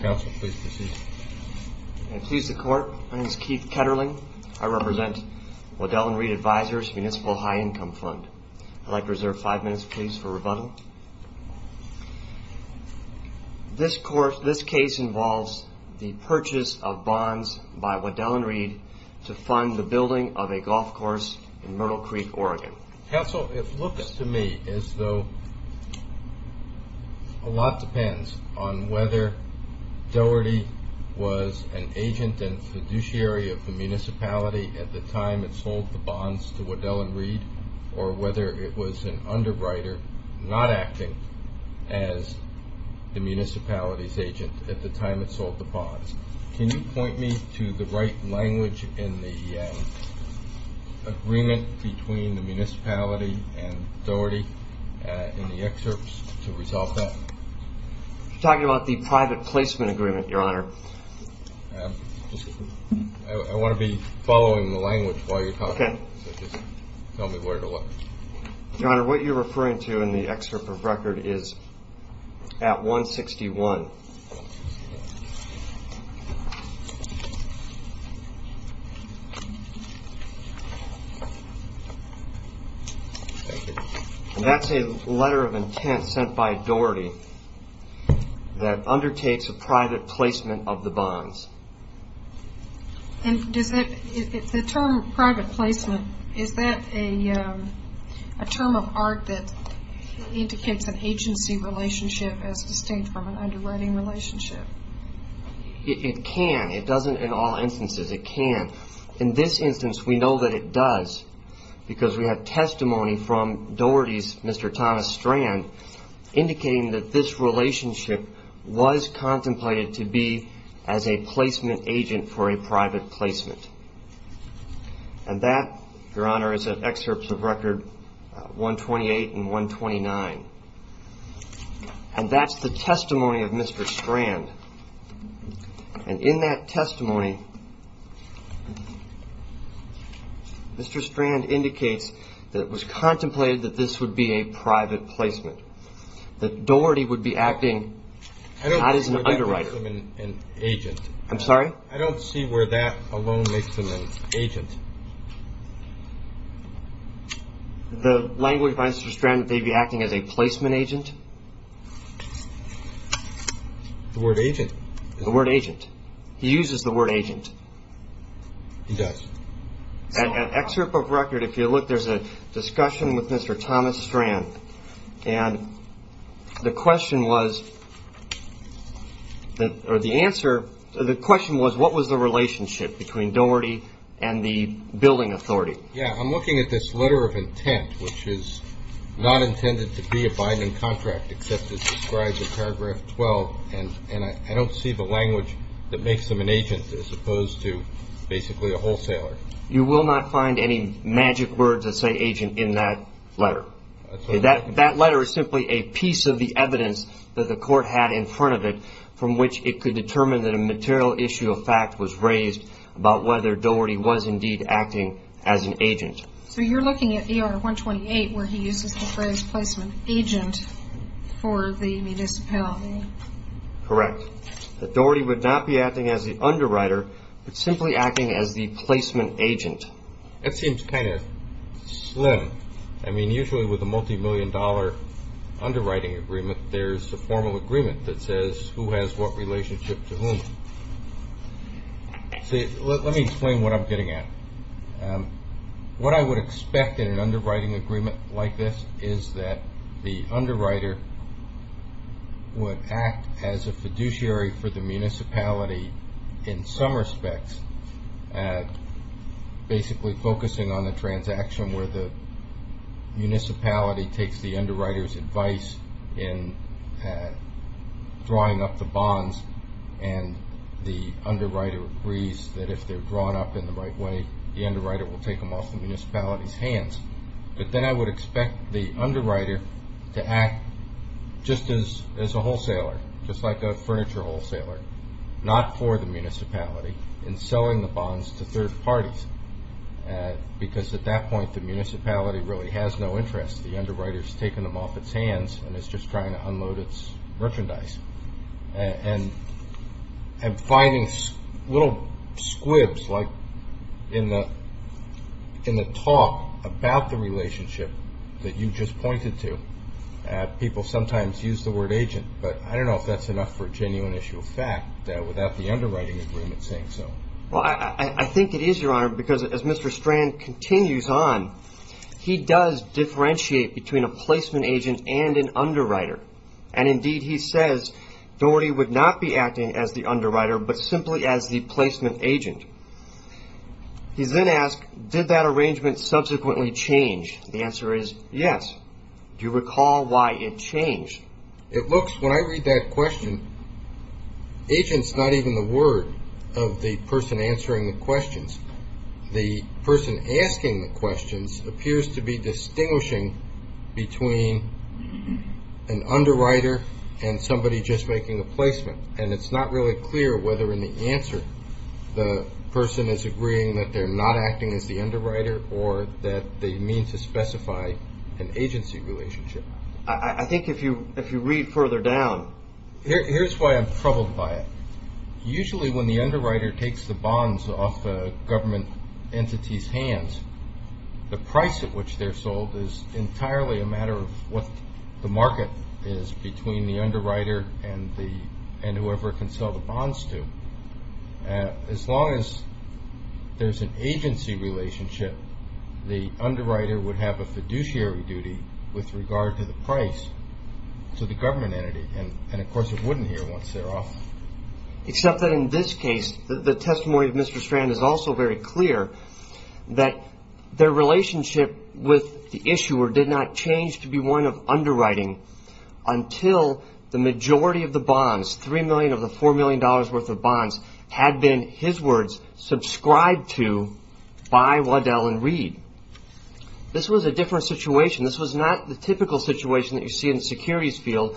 Counsel, please proceed. I please the court. My name is Keith Ketterling. I represent Waddell & Reed Advisors Municipal High Income Fund. I'd like to reserve five minutes, please, for rebuttal. This case involves the purchase of bonds by Waddell & Reed to fund the building of a golf course in Myrtle Creek, Oregon. Counsel, it looks to me as though a lot depends on whether Dougherty was an agent and fiduciary of the municipality at the time it sold the bonds to Waddell & Reed, or whether it was an underwriter not acting as the municipality's agent at the time it sold the bonds. Can you point me to the right language in the agreement between the municipality and Dougherty in the excerpts to resolve that? You're talking about the private placement agreement, Your Honor. I want to be following the language while you're talking, so just tell me where to look. Your Honor, what you're referring to in the excerpt of record is at 161. And that's a letter of intent sent by Dougherty that undertakes a private placement of the bonds. The term private placement, is that a term of art that indicates an agency relationship as distinct from an underwriting relationship? It can. It doesn't in all instances. It can. In this instance, we know that it does, because we have testimony from Dougherty's Mr. Thomas Strand, indicating that this relationship was contemplated to be as a placement agent for a private placement. And that, Your Honor, is at excerpts of record 128 and 129. And that's the testimony of Mr. Strand. And in that testimony, Mr. Strand indicates that it was contemplated that this would be a private placement, that Dougherty would be acting not as an underwriter. I don't see where that makes him an agent. I'm sorry? Agent. The language by Mr. Strand that they'd be acting as a placement agent? The word agent. The word agent. He uses the word agent. He does. At excerpt of record, if you look, there's a discussion with Mr. Thomas Strand. And the question was, or the answer, the question was, what was the relationship between Dougherty and the building authority? Yeah, I'm looking at this letter of intent, which is not intended to be a Biden contract, except it describes in paragraph 12, and I don't see the language that makes him an agent as opposed to basically a wholesaler. You will not find any magic words that say agent in that letter. That letter is simply a piece of the evidence that the court had in front of it, from which it could determine that a material issue of fact was raised about whether Dougherty was indeed acting as an agent. So you're looking at ER 128, where he uses the phrase placement agent for the municipality. Correct. Dougherty would not be acting as the underwriter, but simply acting as the placement agent. That seems kind of slim. I mean, usually with a multimillion dollar underwriting agreement, there's a formal agreement that says who has what relationship to whom. Let me explain what I'm getting at. What I would expect in an underwriting agreement like this is that the underwriter would act as a fiduciary for the municipality in some respects, basically focusing on the transaction where the municipality takes the underwriter's advice in drawing up the bonds, and the underwriter agrees that if they're drawn up in the right way, the underwriter will take them off the municipality's hands. But then I would expect the underwriter to act just as a wholesaler, just like a furniture wholesaler, not for the municipality. In selling the bonds to third parties, because at that point the municipality really has no interest. The underwriter has taken them off its hands and is just trying to unload its merchandise. And finding little squibs, like in the talk about the relationship that you just pointed to, people sometimes use the word agent. But I don't know if that's enough for a genuine issue of fact, without the underwriting agreement saying so. Well, I think it is, Your Honor, because as Mr. Strand continues on, he does differentiate between a placement agent and an underwriter. And indeed, he says Doherty would not be acting as the underwriter, but simply as the placement agent. He then asks, did that arrangement subsequently change? The answer is yes. Do you recall why it changed? It looks, when I read that question, agent's not even the word of the person answering the questions. The person asking the questions appears to be distinguishing between an underwriter and somebody just making a placement. And it's not really clear whether in the answer the person is agreeing that they're not acting as the underwriter or that they mean to specify an agency relationship. I think if you read further down. Here's why I'm troubled by it. Usually when the underwriter takes the bonds off the government entity's hands, the price at which they're sold is entirely a matter of what the market is between the underwriter and whoever it can sell the bonds to. As long as there's an agency relationship, the underwriter would have a fiduciary duty with regard to the price to the government entity. And of course, it wouldn't here once they're off. Except that in this case, the testimony of Mr. Strand is also very clear that their relationship with the issuer did not change to be one of underwriting until the majority of the bonds, $3 million of the $4 million worth of bonds, had been, his words, subscribed to by Waddell and Reed. This was a different situation. This was not the typical situation that you see in the securities field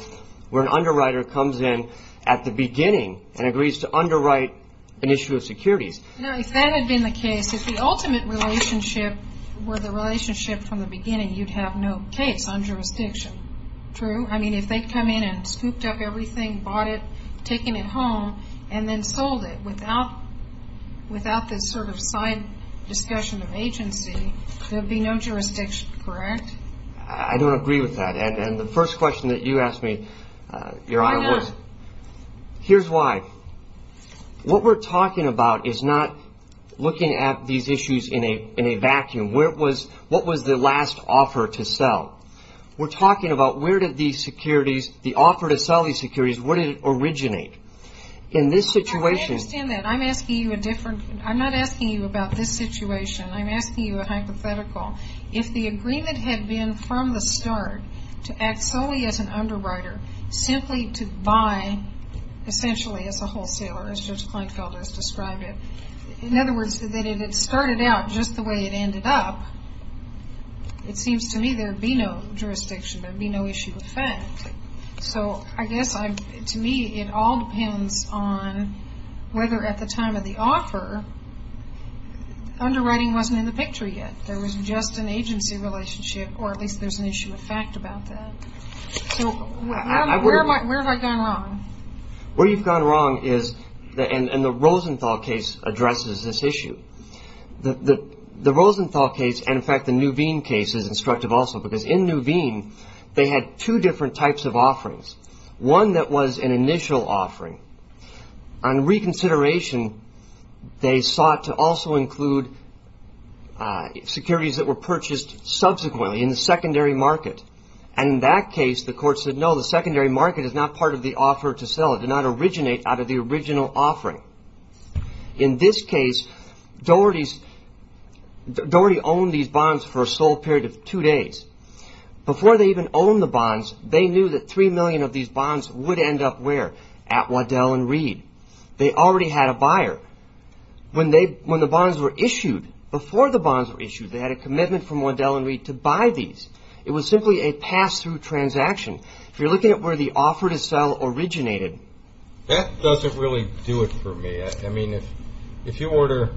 where an underwriter comes in at the beginning and agrees to underwrite an issue of securities. If that had been the case, if the ultimate relationship were the relationship from the beginning, you'd have no case on jurisdiction. True? I mean, if they'd come in and scooped up everything, bought it, taken it home, and then sold it without this sort of side discussion of agency, there'd be no jurisdiction. Correct? I don't agree with that. And the first question that you asked me, Your Honor, was... Why not? Here's why. What we're talking about is not looking at these issues in a vacuum. What was the last offer to sell? We're talking about where did these securities, the offer to sell these securities, where did it originate? In this situation... I understand that. I'm asking you a different... I'm not asking you about this situation. I'm asking you a hypothetical. If the agreement had been from the start to act solely as an underwriter, simply to buy, essentially, as a wholesaler, as Judge Kleinfeld has described it, in other words, that it had started out just the way it ended up, it seems to me there'd be no jurisdiction. There'd be no issue of fact. So I guess, to me, it all depends on whether at the time of the offer, underwriting wasn't in the picture yet. There was just an agency relationship, or at least there's an issue of fact about that. So where have I gone wrong? Where you've gone wrong is, and the Rosenthal case addresses this issue, the Rosenthal case and, in fact, the Nuveen case is instructive also, because in Nuveen, they had two different types of offerings, one that was an initial offering. On reconsideration, they sought to also include securities that were purchased subsequently in the secondary market, and in that case, the court said, no, the secondary market is not part of the offer to sell. It did not originate out of the original offering. In this case, Doherty owned these bonds for a sole period of two days. Before they even owned the bonds, they knew that three million of these bonds would end up where? At Waddell & Reed. They already had a buyer. When the bonds were issued, before the bonds were issued, they had a commitment from Waddell & Reed to buy these. It was simply a pass-through transaction. If you're looking at where the offer to sell originated. That doesn't really do it for me. I mean, if you order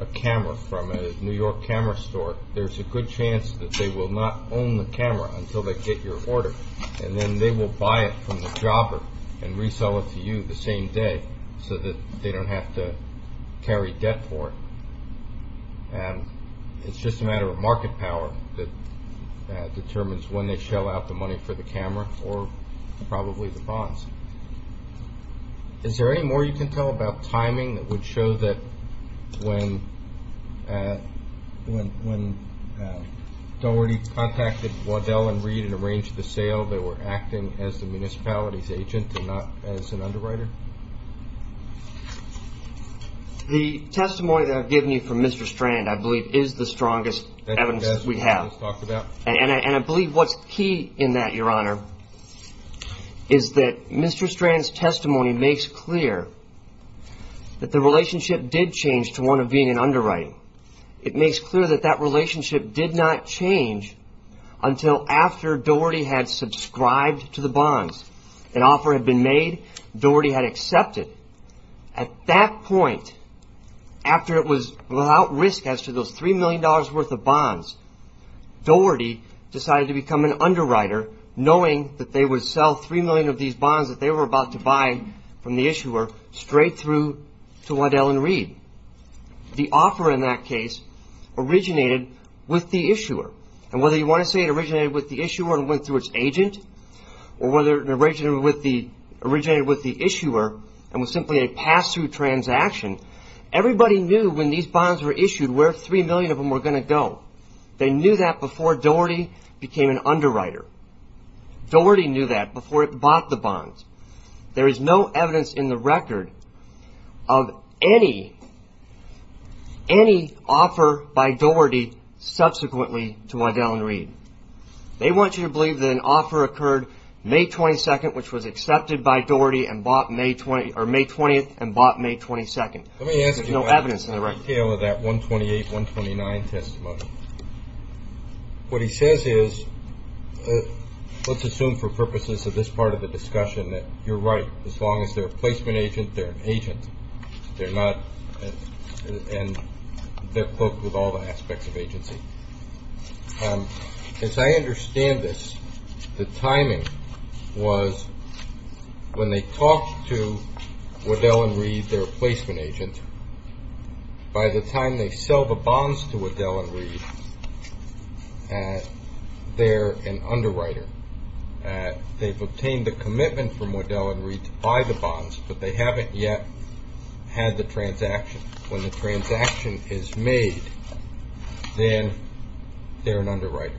a camera from a New York camera store, there's a good chance that they will not own the camera until they get your order, and then they will buy it from the jobber and resell it to you the same day so that they don't have to carry debt for it. It's just a matter of market power that determines when they shell out the money for the camera or probably the bonds. Is there any more you can tell about timing that would show that when Doherty contacted Waddell & Reed and arranged the sale, they were acting as the municipality's agent and not as an underwriter? The testimony that I've given you from Mr. Strand, I believe, is the strongest evidence we have. And I believe what's key in that, Your Honor, is that Mr. Strand's testimony makes clear that the relationship did change to one of being an underwriter. It makes clear that that relationship did not change until after Doherty had subscribed to the bonds. An offer had been made. Doherty had accepted. At that point, after it was without risk as to those $3 million worth of bonds, Doherty decided to become an underwriter, knowing that they would sell $3 million of these bonds that they were about to buy from the issuer straight through to Waddell & Reed. The offer in that case originated with the issuer. And whether you want to say it originated with the issuer and went through its agent, or whether it originated with the issuer and was simply a pass-through transaction, everybody knew when these bonds were issued where $3 million of them were going to go. They knew that before Doherty became an underwriter. Doherty knew that before it bought the bonds. There is no evidence in the record of any offer by Doherty subsequently to Waddell & Reed. They want you to believe that an offer occurred May 22nd, which was accepted by Doherty, and bought May 20th, and bought May 22nd. There's no evidence in the record. Let's go into the detail of that 128-129 testimony. What he says is, let's assume for purposes of this part of the discussion, that you're right. As long as they're a placement agent, they're an agent. They're not – and they're cloaked with all the aspects of agency. As I understand this, the timing was when they talked to Waddell & Reed, their placement agent, by the time they sell the bonds to Waddell & Reed, they're an underwriter. They've obtained the commitment from Waddell & Reed to buy the bonds, but they haven't yet had the transaction. When the transaction is made, then they're an underwriter.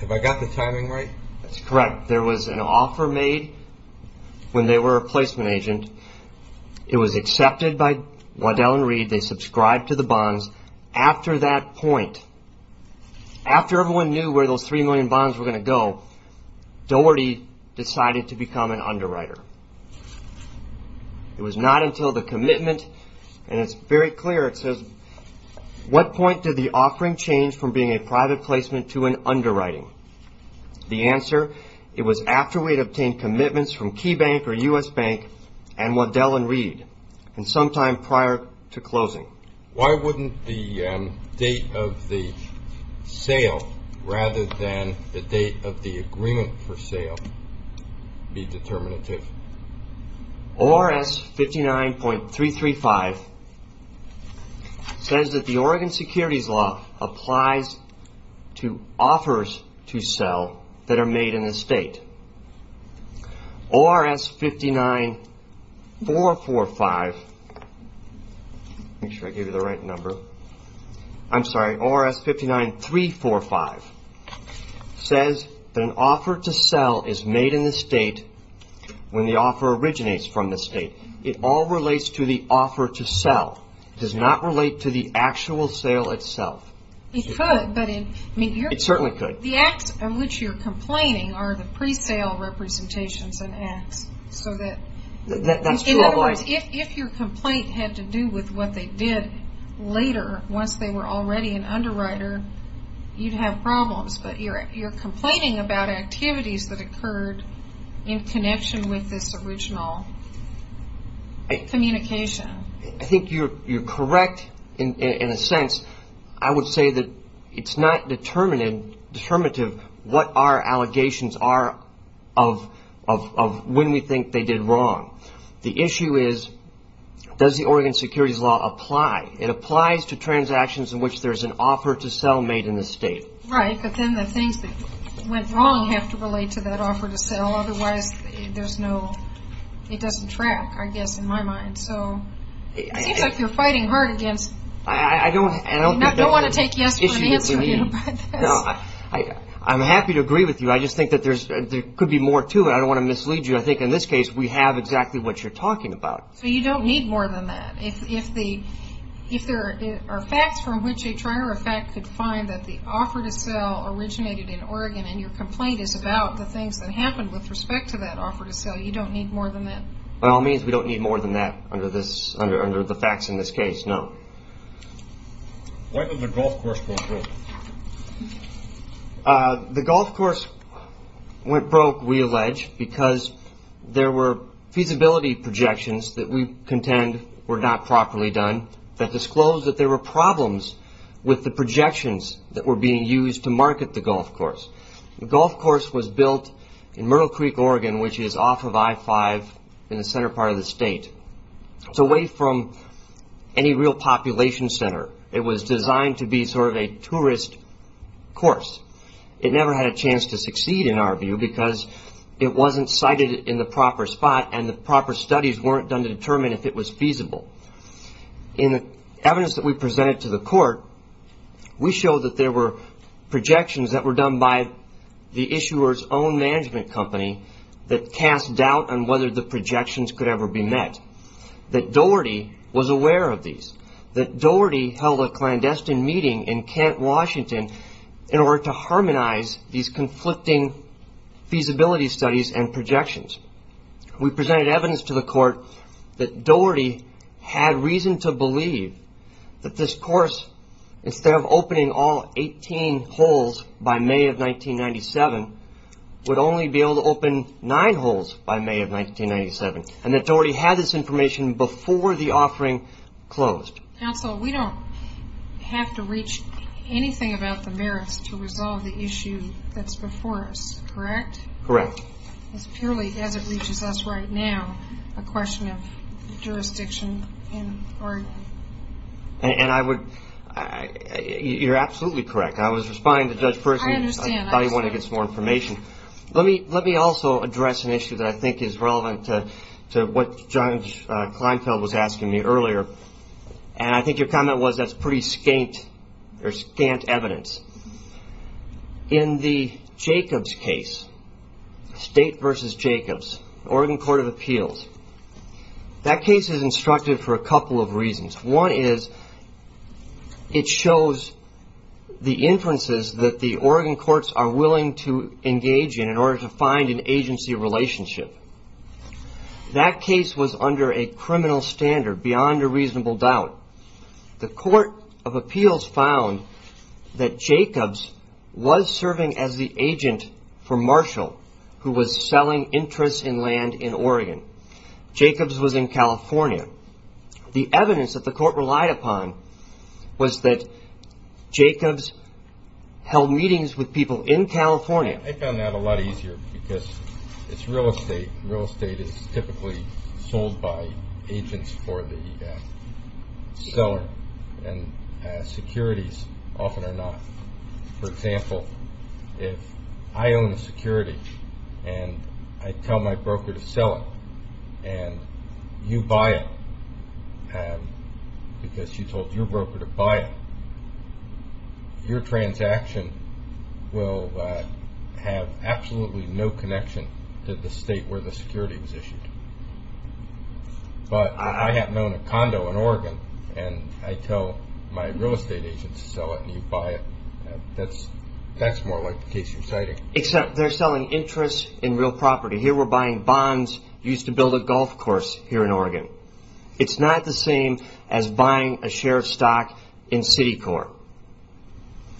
Have I got the timing right? That's correct. There was an offer made when they were a placement agent. It was accepted by Waddell & Reed. They subscribed to the bonds. After that point, after everyone knew where those 3 million bonds were going to go, Doherty decided to become an underwriter. It was not until the commitment – and it's very clear. It says, what point did the offering change from being a private placement to an underwriting? The answer, it was after we had obtained commitments from Key Bank or U.S. Bank and Waddell & Reed, and sometime prior to closing. Why wouldn't the date of the sale rather than the date of the agreement for sale be determinative? ORS 59.335 says that the Oregon Securities Law applies to offers to sell that are made in the state. ORS 59.345 says that an offer to sell is made in the state when the offer originates from the state. It all relates to the offer to sell. It does not relate to the actual sale itself. It could. It certainly could. The acts of which you're complaining are the pre-sale representations and acts. That's true. In other words, if your complaint had to do with what they did later, once they were already an underwriter, you'd have problems. But you're complaining about activities that occurred in connection with this original communication. I think you're correct in a sense. I would say that it's not determinative what our allegations are of when we think they did wrong. The issue is, does the Oregon Securities Law apply? It applies to transactions in which there's an offer to sell made in the state. Right, but then the things that went wrong have to relate to that offer to sell. Otherwise, it doesn't track, I guess, in my mind. It seems like you're fighting hard against- I don't- You don't want to take yes from the answer, do you? No, I'm happy to agree with you. I just think that there could be more to it. I don't want to mislead you. I think in this case, we have exactly what you're talking about. So you don't need more than that. If there are facts from which a trier of fact could find that the offer to sell originated in Oregon and your complaint is about the things that happened with respect to that offer to sell, you don't need more than that. By all means, we don't need more than that under the facts in this case, no. When did the golf course go broke? The golf course went broke, we allege, because there were feasibility projections that we contend were not properly done that disclosed that there were problems with the projections that were being used to market the golf course. The golf course was built in Myrtle Creek, Oregon, which is off of I-5 in the center part of the state. It's away from any real population center. It was designed to be sort of a tourist course. It never had a chance to succeed in our view because it wasn't cited in the proper spot and the proper studies weren't done to determine if it was feasible. In the evidence that we presented to the court, we showed that there were projections that were done by the issuer's own management company that cast doubt on whether the projections could ever be met, that Doherty was aware of these, that Doherty held a clandestine meeting in Kent, Washington, in order to harmonize these conflicting feasibility studies and projections. We presented evidence to the court that Doherty had reason to believe that this course, instead of opening all 18 holes by May of 1997, would only be able to open 9 holes by May of 1997 and that Doherty had this information before the offering closed. Counsel, we don't have to reach anything about the merits to resolve the issue that's before us, correct? Correct. It's purely, as it reaches us right now, a question of jurisdiction in court. And I would, you're absolutely correct. I was responding to Judge Persky. I understand. I thought he wanted to get some more information. Let me also address an issue that I think is relevant to what Judge Kleinfeld was asking me earlier, and I think your comment was that's pretty scant evidence. In the Jacobs case, State v. Jacobs, Oregon Court of Appeals, that case is instructive for a couple of reasons. One is it shows the inferences that the Oregon courts are willing to engage in in order to find an agency relationship. That case was under a criminal standard beyond a reasonable doubt. The court of appeals found that Jacobs was serving as the agent for Marshall, who was selling interests in land in Oregon. Jacobs was in California. The evidence that the court relied upon was that Jacobs held meetings with people in California. I found that a lot easier because it's real estate. Real estate is typically sold by agents for the seller, and securities often are not. For example, if I own a security and I tell my broker to sell it and you buy it because you told your broker to buy it, your transaction will have absolutely no connection to the state where the security was issued. But I have known a condo in Oregon, and I tell my real estate agent to sell it and you buy it. That's more like the case you're citing. Except they're selling interests in real property. Here we're buying bonds used to build a golf course here in Oregon. It's not the same as buying a share of stock in Citicorp.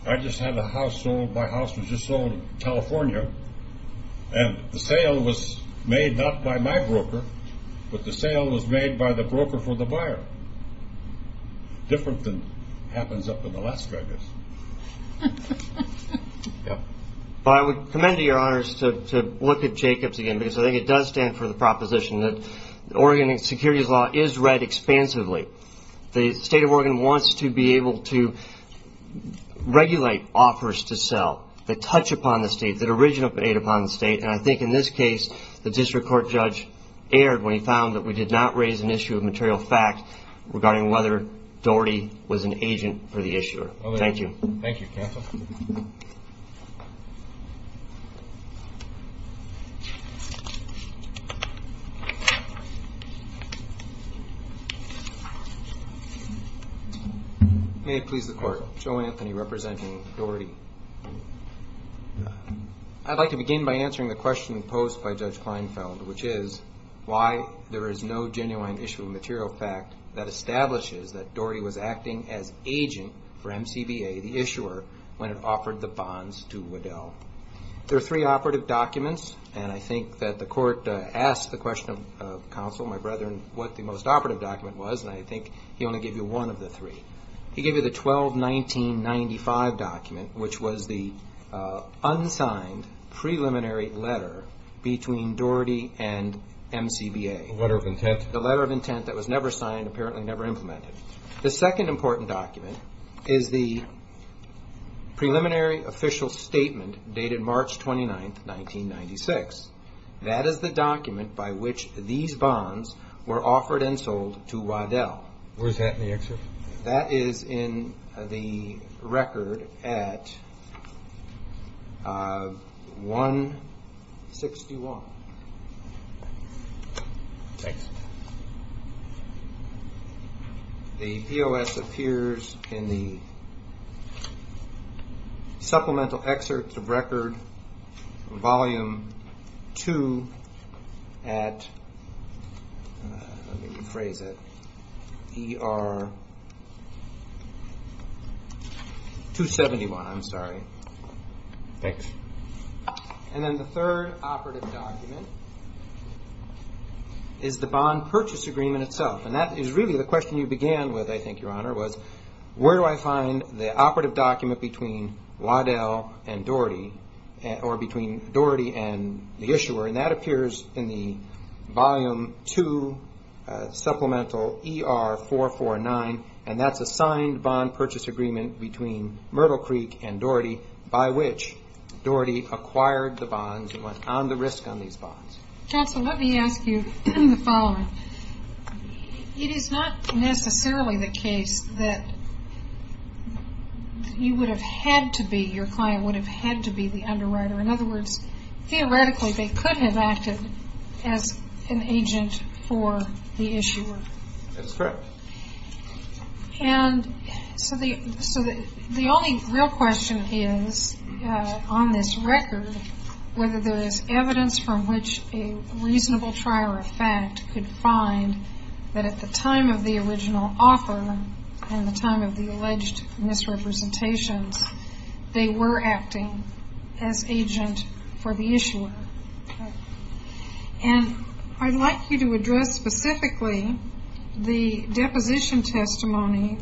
I just had a house sold. My house was just sold in California, and the sale was made not by my broker, but the sale was made by the broker for the buyer. Different than happens up in Alaska, I guess. Well, I would commend to your honors to look at Jacobs again because I think it does stand for the proposition that Oregon securities law is read expansively. The state of Oregon wants to be able to regulate offers to sell that touch upon the state, that originate upon the state, and I think in this case, the district court judge erred when he found that we did not raise an issue of material fact regarding whether Doherty was an agent for the issuer. Thank you. Thank you, counsel. May it please the court. Joe Anthony representing Doherty. I'd like to begin by answering the question posed by Judge Kleinfeld, which is why there is no genuine issue of material fact that establishes that Doherty was acting as agent for MCBA, the issuer, when it offered the bonds to Waddell. There are three operative documents, and I think that the court asked the question of counsel, my brethren, what the most operative document was, and I think he only gave you one of the three. He gave you the 12-1995 document, which was the unsigned preliminary letter between Doherty and MCBA. The letter of intent. The letter of intent that was never signed, apparently never implemented. The second important document is the preliminary official statement dated March 29, 1996. That is the document by which these bonds were offered and sold to Waddell. Where is that in the excerpt? That is in the record at 161. Thanks. The POS appears in the supplemental excerpt of record, Volume 2 at, let me rephrase it, ER 271. I'm sorry. Thanks. And then the third operative document is the bond purchase agreement itself, and that is really the question you began with, I think, Your Honor, was where do I find the operative document between Waddell and Doherty, or between Doherty and the issuer, and that appears in the Volume 2 Supplemental ER 449, and that's a signed bond purchase agreement between Myrtle Creek and Doherty by which Doherty acquired the bonds and went on the risk on these bonds. Counsel, let me ask you the following. It is not necessarily the case that you would have had to be, your client would have had to be the underwriter. In other words, theoretically, they couldn't have acted as an agent for the issuer. That's correct. And so the only real question is, on this record, whether there is evidence from which a reasonable trier of fact could find that at the time of the original offer and the time of the alleged misrepresentations, they were acting as agent for the issuer. And I'd like you to address specifically the deposition testimony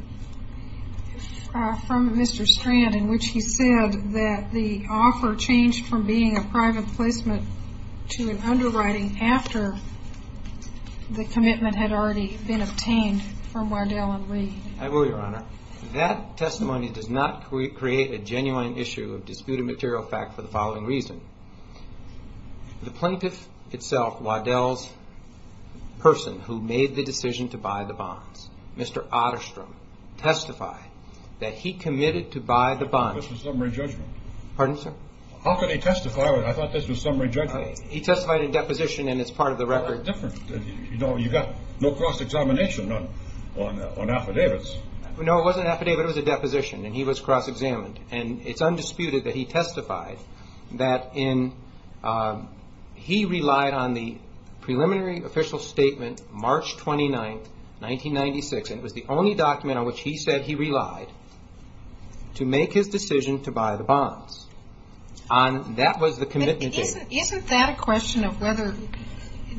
from Mr. Strand in which he said that the offer changed from being a private placement to an underwriting after the commitment had already been obtained from Waddell and Lee. I will, Your Honor. That testimony does not create a genuine issue of disputed material fact for the following reason. The plaintiff itself, Waddell's person who made the decision to buy the bonds, Mr. Otterstrom, testified that he committed to buy the bonds. This was summary judgment. Pardon, sir? How could he testify? I thought this was summary judgment. He testified in deposition, and it's part of the record. You've got no cross-examination on affidavits. No, it wasn't an affidavit. It was a deposition, and he was cross-examined. And it's undisputed that he testified that he relied on the preliminary official statement March 29, 1996, and it was the only document on which he said he relied, to make his decision to buy the bonds. That was the commitment date. Isn't that a question of whether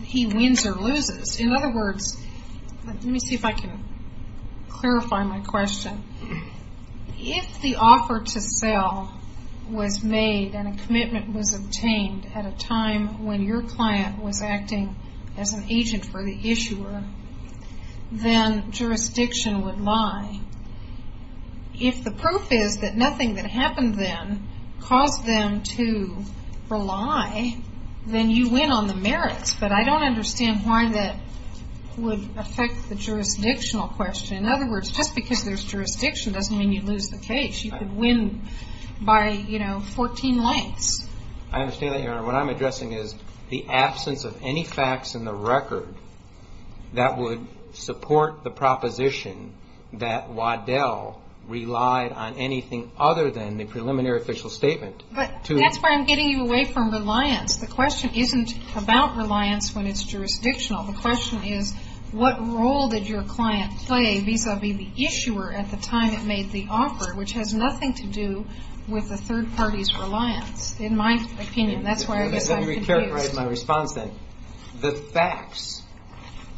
he wins or loses? In other words, let me see if I can clarify my question. If the offer to sell was made and a commitment was obtained at a time when your client was acting as an agent for the issuer, then jurisdiction would lie. If the proof is that nothing that happened then caused them to rely, then you win on the merits. But I don't understand why that would affect the jurisdictional question. In other words, just because there's jurisdiction doesn't mean you lose the case. You could win by, you know, 14 lengths. I understand that, Your Honor. What I'm addressing is the absence of any facts in the record that would support the proposition that Waddell relied on anything other than the preliminary official statement. But that's where I'm getting you away from reliance. The question isn't about reliance when it's jurisdictional. The question is what role did your client play vis-a-vis the issuer at the time it made the offer, which has nothing to do with the third party's reliance, in my opinion. That's why I guess I'm confused. Let me reiterate my response then. The facts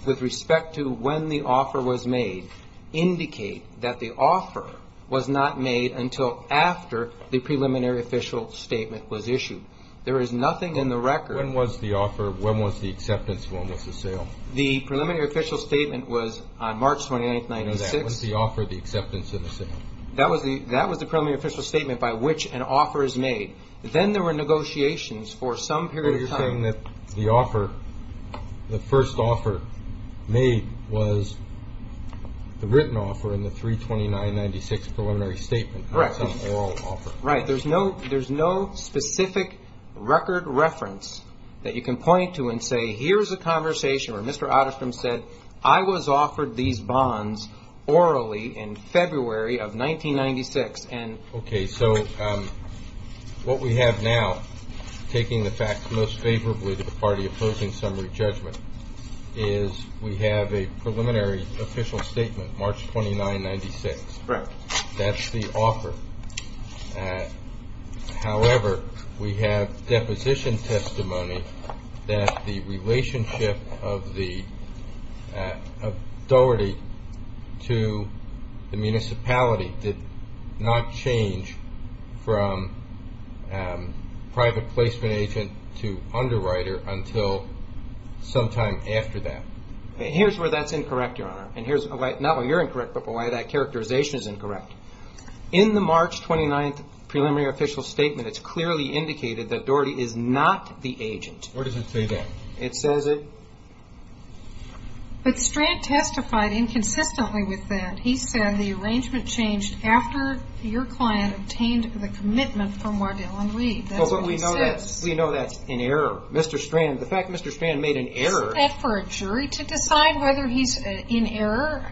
with respect to when the offer was made indicate that the offer was not made until after the preliminary official statement was issued. There is nothing in the record. When was the offer? When was the acceptance? When was the sale? The preliminary official statement was on March 29th, 1996. When was the offer, the acceptance, and the sale? That was the preliminary official statement by which an offer is made. Then there were negotiations for some period of time. But you're saying that the offer, the first offer made was the written offer in the 329-96 preliminary statement. Correct. Not some oral offer. Right. There's no specific record reference that you can point to and say, here's a conversation where Mr. Otterstrom said, I was offered these bonds orally in February of 1996. Okay. So what we have now, taking the facts most favorably to the party opposing summary judgment, is we have a preliminary official statement, March 29, 1996. Correct. That's the offer. However, we have deposition testimony that the relationship of the authority to the municipality did not change from private placement agent to underwriter until sometime after that. Here's where that's incorrect, Your Honor. And here's not why you're incorrect, but why that characterization is incorrect. In the March 29th preliminary official statement, it's clearly indicated that Doherty is not the agent. Where does it say that? It says it. But Strand testified inconsistently with that. He said the arrangement changed after your client obtained the commitment from Wardell and Reed. That's what he says. We know that's an error. Mr. Strand, the fact that Mr. Strand made an error. Is that for a jury to decide whether he's in error?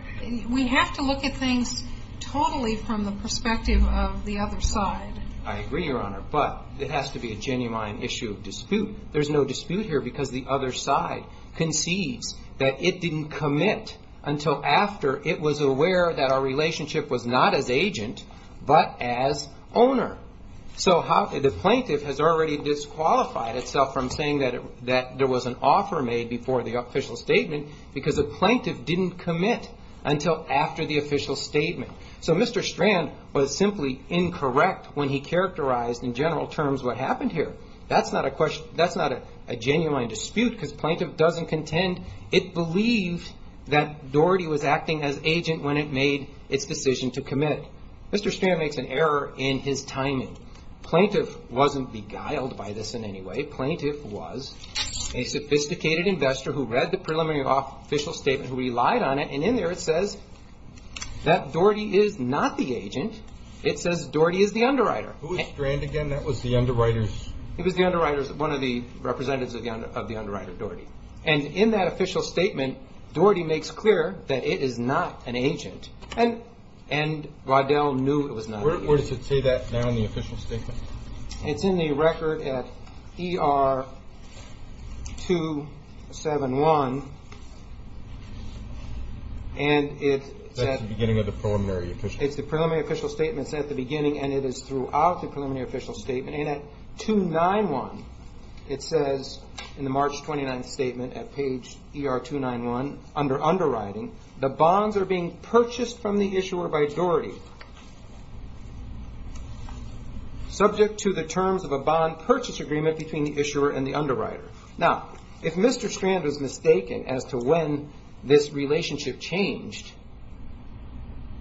We have to look at things totally from the perspective of the other side. I agree, Your Honor, but it has to be a genuine issue of dispute. There's no dispute here because the other side conceives that it didn't commit until after it was aware that our relationship was not as agent but as owner. So the plaintiff has already disqualified itself from saying that there was an offer made before the official statement because the plaintiff didn't commit until after the official statement. So Mr. Strand was simply incorrect when he characterized in general terms what happened here. That's not a genuine dispute because plaintiff doesn't contend. It believes that Doherty was acting as agent when it made its decision to commit. Mr. Strand makes an error in his timing. Plaintiff wasn't beguiled by this in any way. Plaintiff was a sophisticated investor who read the preliminary official statement, who relied on it, and in there it says that Doherty is not the agent. It says Doherty is the underwriter. Who was Strand again? That was the underwriters? It was the underwriters, one of the representatives of the underwriter, Doherty. And in that official statement, Doherty makes clear that it is not an agent. And Waddell knew it was not an agent. Where does it say that now in the official statement? It's in the record at ER 271. And it's at the beginning of the preliminary official statement. It's the preliminary official statement. It's at the beginning, and it is throughout the preliminary official statement. And at 291, it says in the March 29th statement at page ER 291 under underwriting, the bonds are being purchased from the issuer by Doherty, subject to the terms of a bond purchase agreement between the issuer and the underwriter. Now, if Mr. Strand was mistaken as to when this relationship changed,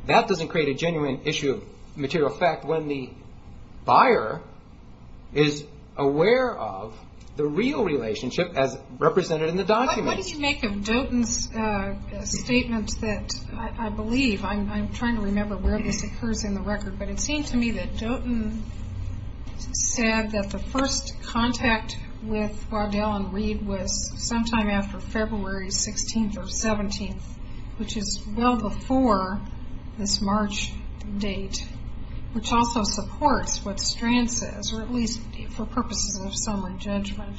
that doesn't create a genuine issue of material fact when the buyer is aware of the real relationship as represented in the document. What do you make of Doughton's statement that I believe, I'm trying to remember where this occurs in the record, but it seemed to me that Doughton said that the first contact with Waddell and Reed was sometime after February 16th or 17th, which is well before this March date, which also supports what Strand says, or at least for purposes of summary judgment.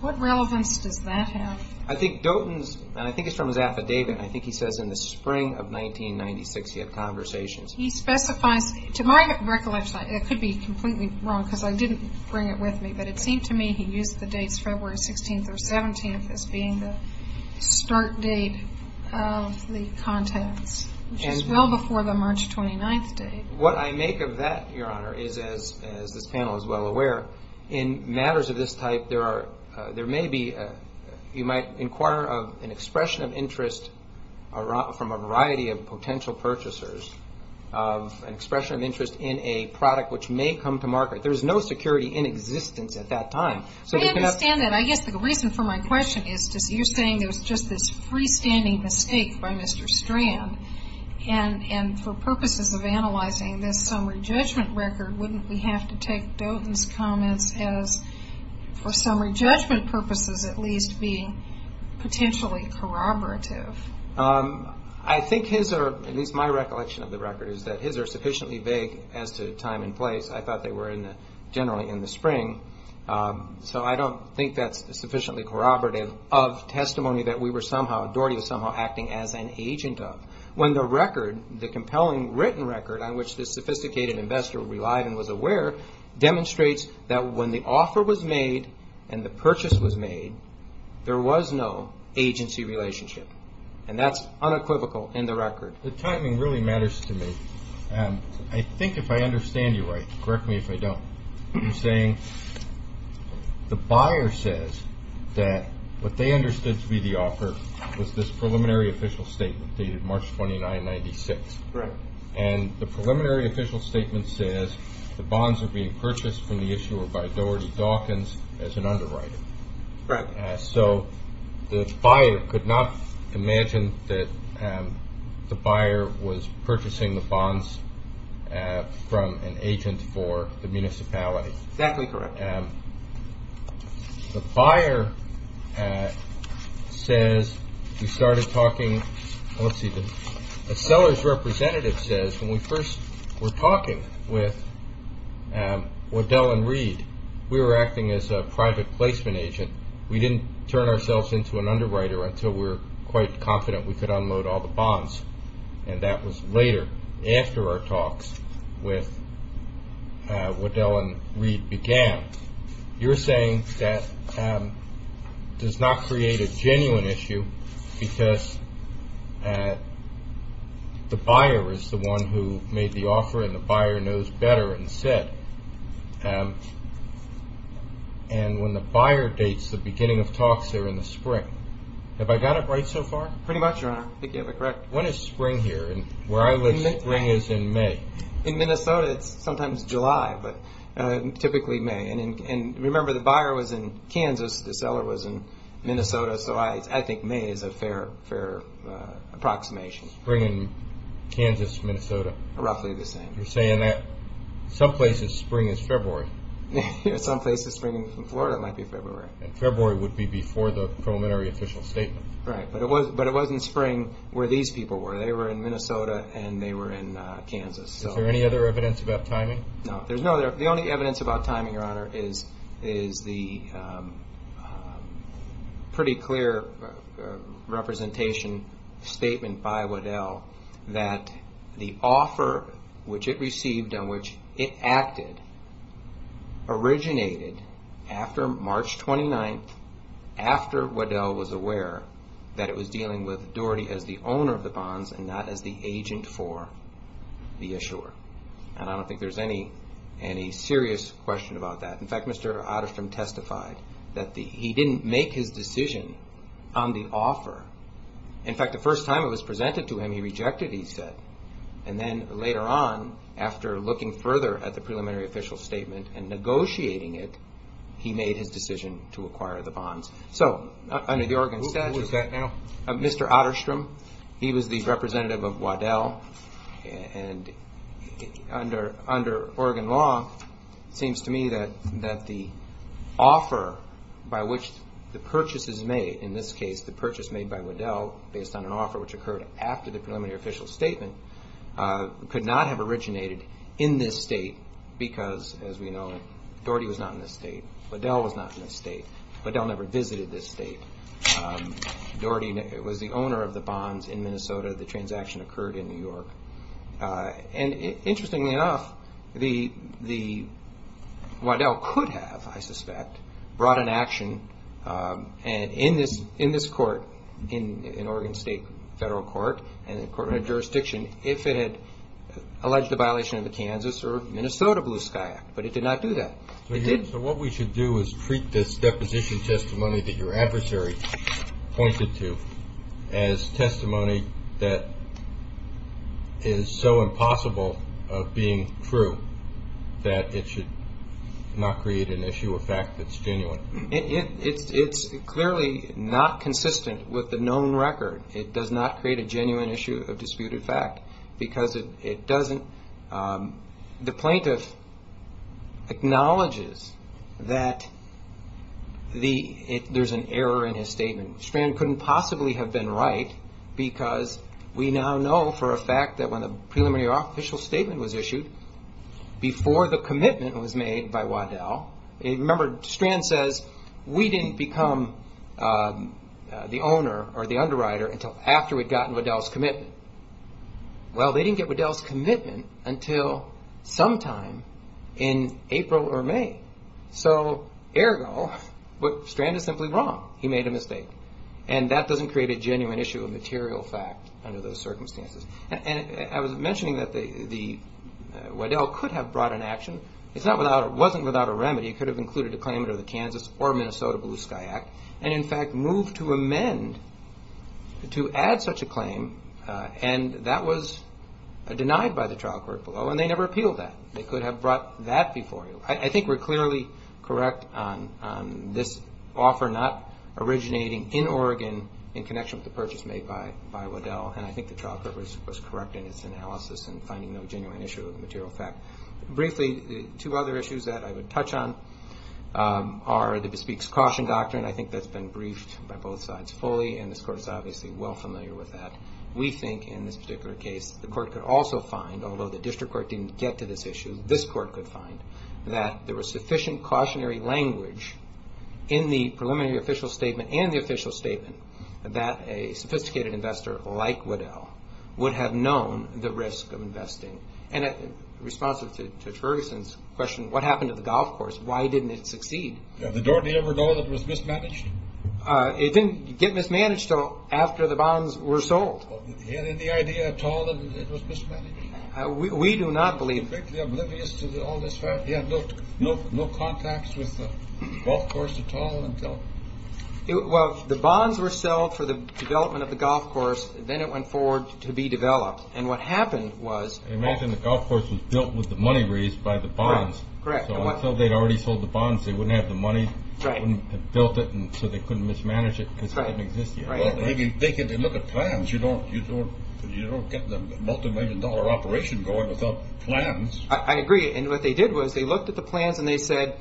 What relevance does that have? I think Doughton's, and I think it's from his affidavit, and I think he says in the spring of 1996 he had conversations. He specifies, to my recollection, it could be completely wrong because I didn't bring it with me, but it seemed to me he used the dates February 16th or 17th as being the start date of the contacts, which is well before the March 29th date. What I make of that, Your Honor, is as this panel is well aware, in matters of this type there may be, you might inquire of an expression of interest from a variety of potential purchasers, of an expression of interest in a product which may come to market. There is no security in existence at that time. I understand that. I guess the reason for my question is you're saying there's just this freestanding mistake by Mr. Strand, and for purposes of analyzing this summary judgment record, wouldn't we have to take Doughton's comments as, for summary judgment purposes at least, being potentially corroborative? I think his, or at least my recollection of the record, is that his are sufficiently vague as to time and place. I thought they were generally in the spring, so I don't think that's sufficiently corroborative of testimony that we were somehow, Doherty was somehow acting as an agent of. When the record, the compelling written record, on which this sophisticated investor relied and was aware, demonstrates that when the offer was made and the purchase was made, there was no agency relationship. And that's unequivocal in the record. The timing really matters to me. I think if I understand you right, correct me if I don't, you're saying the buyer says that what they understood to be the offer was this preliminary official statement dated March 29, 1996. Correct. And the preliminary official statement says, the bonds are being purchased from the issuer by Doherty Doughtons as an underwriter. Correct. So the buyer could not imagine that the buyer was purchasing the bonds from an agent for the municipality. Exactly correct. The buyer says, he started talking, let's see, the seller's representative says, when we first were talking with Waddell and Reed, we were acting as a private placement agent. We didn't turn ourselves into an underwriter until we were quite confident we could unload all the bonds. And that was later, after our talks with Waddell and Reed began. You're saying that does not create a genuine issue because the buyer is the one who made the offer and the buyer knows better and said. And when the buyer dates the beginning of talks there in the spring. Have I got it right so far? Pretty much, Your Honor. I think you have it correct. When is spring here? Where I live spring is in May. In Minnesota it's sometimes July, but typically May. And remember the buyer was in Kansas, the seller was in Minnesota, so I think May is a fair approximation. Spring in Kansas, Minnesota. Roughly the same. You're saying that some places spring is February. Some places spring in Florida might be February. And February would be before the preliminary official statement. Right. But it wasn't spring where these people were. They were in Minnesota and they were in Kansas. Is there any other evidence about timing? No. The only evidence about timing, Your Honor, is the pretty clear representation statement by Waddell that the offer which it received and which it acted originated after March 29th, after Waddell was aware that it was dealing with Doherty as the owner of the bonds and not as the agent for the issuer. And I don't think there's any serious question about that. In fact, Mr. Odderstrom testified that he didn't make his decision on the offer. In fact, the first time it was presented to him, he rejected it, he said. And then later on, after looking further at the preliminary official statement and negotiating it, he made his decision to acquire the bonds. So under the Oregon statute. Who was that now? Mr. Odderstrom. He was the representative of Waddell. And under Oregon law, it seems to me that the offer by which the purchase is made, in this case the purchase made by Waddell based on an offer which occurred after the preliminary official statement, could not have originated in this state because, as we know, Doherty was not in this state. Waddell was not in this state. Waddell never visited this state. Doherty was the owner of the bonds in Minnesota. The transaction occurred in New York. And interestingly enough, Waddell could have, I suspect, brought an action in this court, in Oregon State Federal Court and the court of jurisdiction, if it had alleged a violation of the Kansas or Minnesota Blue Sky Act. But it did not do that. So what we should do is treat this deposition testimony that your adversary pointed to as testimony that is so impossible of being true that it should not create an issue or fact that's genuine. It's clearly not consistent with the known record. It does not create a genuine issue of disputed fact because it doesn't – the plaintiff acknowledges that there's an error in his statement. Strand couldn't possibly have been right because we now know for a fact that when the preliminary official statement was issued, before the commitment was made by Waddell – remember, Strand says we didn't become the owner or the underwriter until after we'd gotten Waddell's commitment. Well, they didn't get Waddell's commitment until sometime in April or May. So, ergo, Strand is simply wrong. He made a mistake. And that doesn't create a genuine issue of material fact under those circumstances. And I was mentioning that Waddell could have brought an action. It wasn't without a remedy. It could have included a claim under the Kansas or Minnesota Blue Sky Act and, in fact, moved to amend to add such a claim, and that was denied by the trial court below, and they never appealed that. They could have brought that before you. I think we're clearly correct on this offer not originating in Oregon in connection with the purchase made by Waddell, and I think the trial court was correct in its analysis in finding no genuine issue of material fact. Briefly, two other issues that I would touch on are the Bespeak's Caution Doctrine. I think that's been briefed by both sides fully, and this Court is obviously well familiar with that. We think in this particular case the Court could also find, although the District Court didn't get to this issue, this Court could find that there was sufficient cautionary language in the preliminary official statement and the official statement And in response to Judge Ferguson's question, what happened to the golf course? Why didn't it succeed? Did the Doherty ever know that it was mismanaged? It didn't get mismanaged until after the bonds were sold. Did he have any idea at all that it was mismanaged? We do not believe. Was he oblivious to all this fact? He had no contacts with the golf course at all until? Well, the bonds were sold for the development of the golf course, then it went forward to be developed, and what happened was... Imagine the golf course was built with the money raised by the bonds. Correct. So until they'd already sold the bonds, they wouldn't have the money, they wouldn't have built it, so they couldn't mismanage it because it didn't exist yet. Well, if you look at plans, you don't get the multi-million dollar operation going without plans. I agree, and what they did was they looked at the plans and they said,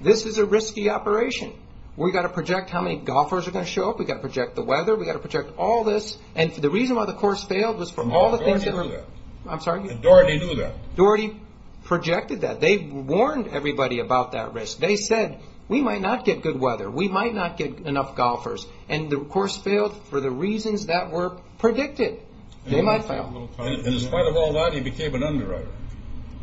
this is a risky operation. We've got to project how many golfers are going to show up, we've got to project the weather, we've got to project all this. And the reason why the course failed was from all the things that were... Oh, Doherty knew that. I'm sorry? Doherty knew that. Doherty projected that. They warned everybody about that risk. They said, we might not get good weather, we might not get enough golfers, and the course failed for the reasons that were predicted. They might fail. In spite of all that, he became an underwriter.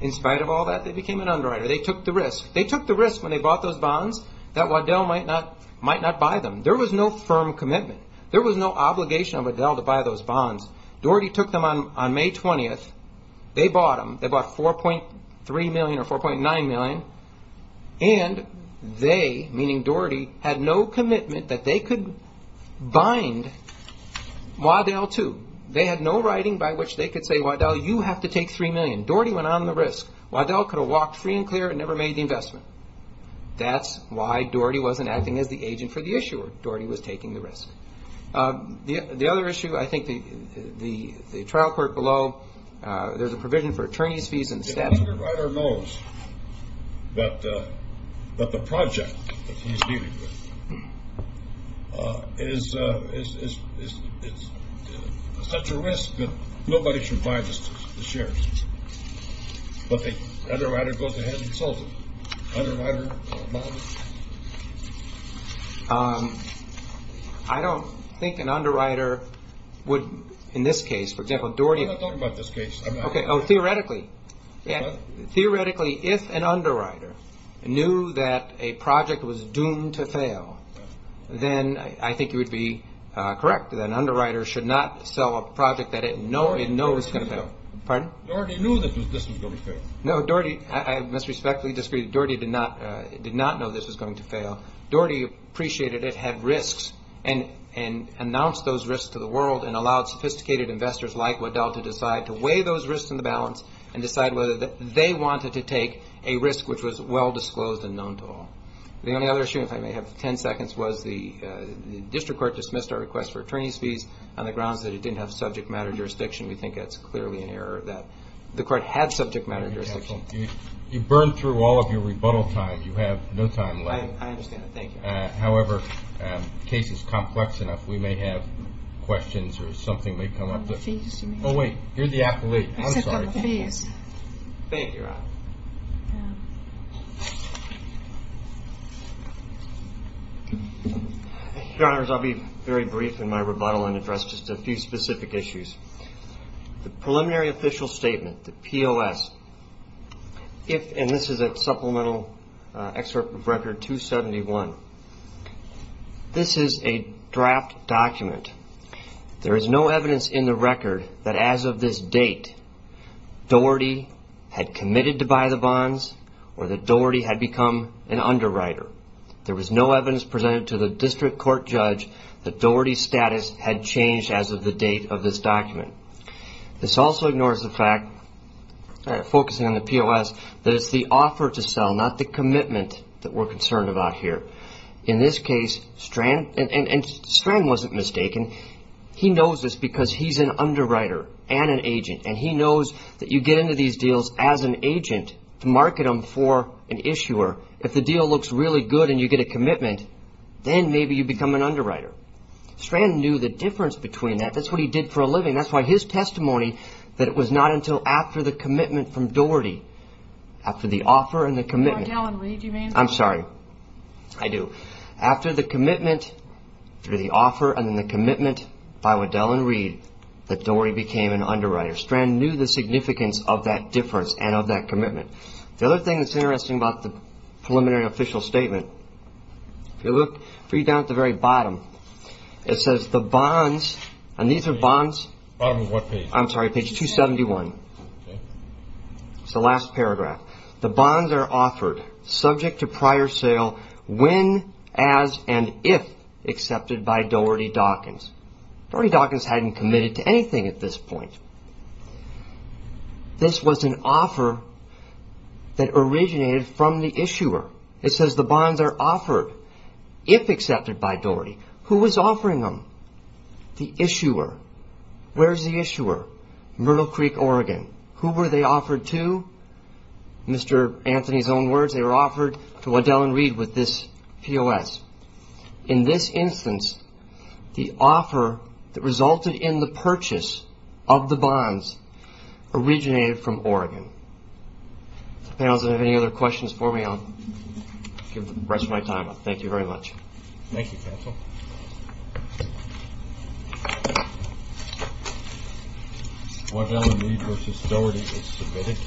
In spite of all that, they became an underwriter. They took the risk. They took the risk when they bought those bonds that Waddell might not buy them. There was no firm commitment. There was no obligation on Waddell to buy those bonds. Doherty took them on May 20th. They bought them. They bought 4.3 million or 4.9 million, and they, meaning Doherty, had no commitment that they could bind Waddell to. They had no writing by which they could say, Waddell, you have to take 3 million. Doherty went on the risk. Waddell could have walked free and clear and never made the investment. That's why Doherty wasn't acting as the agent for the issuer. That's why Doherty was taking the risk. The other issue, I think the trial court below, there's a provision for attorney's fees and staffing. If an underwriter knows that the project that he's dealing with is such a risk that nobody should buy the shares, but the underwriter goes ahead and sells them. Underwriter bonds? I don't think an underwriter would, in this case, for example, Doherty. I'm not talking about this case. Okay. Oh, theoretically. What? Theoretically, if an underwriter knew that a project was doomed to fail, then I think you would be correct. An underwriter should not sell a project that it knows is going to fail. Pardon? Doherty knew that this was going to fail. No, Doherty, I disrespectfully disagree. Doherty did not know this was going to fail. Doherty appreciated it, had risks, and announced those risks to the world and allowed sophisticated investors like Waddell to decide to weigh those risks in the balance and decide whether they wanted to take a risk which was well disclosed and known to all. The only other issue, if I may have 10 seconds, was the district court dismissed our request for attorney's fees on the grounds that it didn't have subject matter jurisdiction. We think that's clearly an error that the court had subject matter jurisdiction. You burned through all of your rebuttal time. You have no time left. I understand. Thank you. However, the case is complex enough. We may have questions or something may come up. On the fees, you mean? Oh, wait. You're the appellate. I'm sorry. You said on the fees. Thank you, Your Honor. Your Honors, I'll be very brief in my rebuttal and address just a few specific issues. The preliminary official statement, the POS, and this is a supplemental excerpt of Record 271. This is a draft document. There is no evidence in the record that as of this date, Doherty had committed to buy the bonds or that Doherty had become an underwriter. There was no evidence presented to the district court judge that Doherty's status had changed as of the date of this document. This also ignores the fact, focusing on the POS, that it's the offer to sell, not the commitment that we're concerned about here. In this case, Strang wasn't mistaken. He knows this because he's an underwriter and an agent, and he knows that you get into these deals as an agent to market them for an issuer. If the deal looks really good and you get a commitment, then maybe you become an underwriter. Strang knew the difference between that. That's what he did for a living. That's why his testimony that it was not until after the commitment from Doherty, after the offer and the commitment. Waddell and Reed, you mean? I'm sorry. I do. After the commitment through the offer and then the commitment by Waddell and Reed, that Doherty became an underwriter. Strang knew the significance of that difference and of that commitment. The other thing that's interesting about the preliminary official statement, if you look down at the very bottom, it says the bonds, and these are bonds. Bottom of what page? I'm sorry, page 271. Okay. It's the last paragraph. The bonds are offered subject to prior sale when, as, and if accepted by Doherty Dawkins. Doherty Dawkins hadn't committed to anything at this point. This was an offer that originated from the issuer. It says the bonds are offered if accepted by Doherty. Who was offering them? The issuer. Where's the issuer? Myrtle Creek, Oregon. Who were they offered to? Mr. Anthony's own words, they were offered to Waddell and Reed with this POS. In this instance, the offer that resulted in the purchase of the bonds originated from Oregon. If the panel doesn't have any other questions for me, I'll give the rest of my time up. Thank you very much. Thank you, counsel. Waddell and Reed v. Doherty is submitted.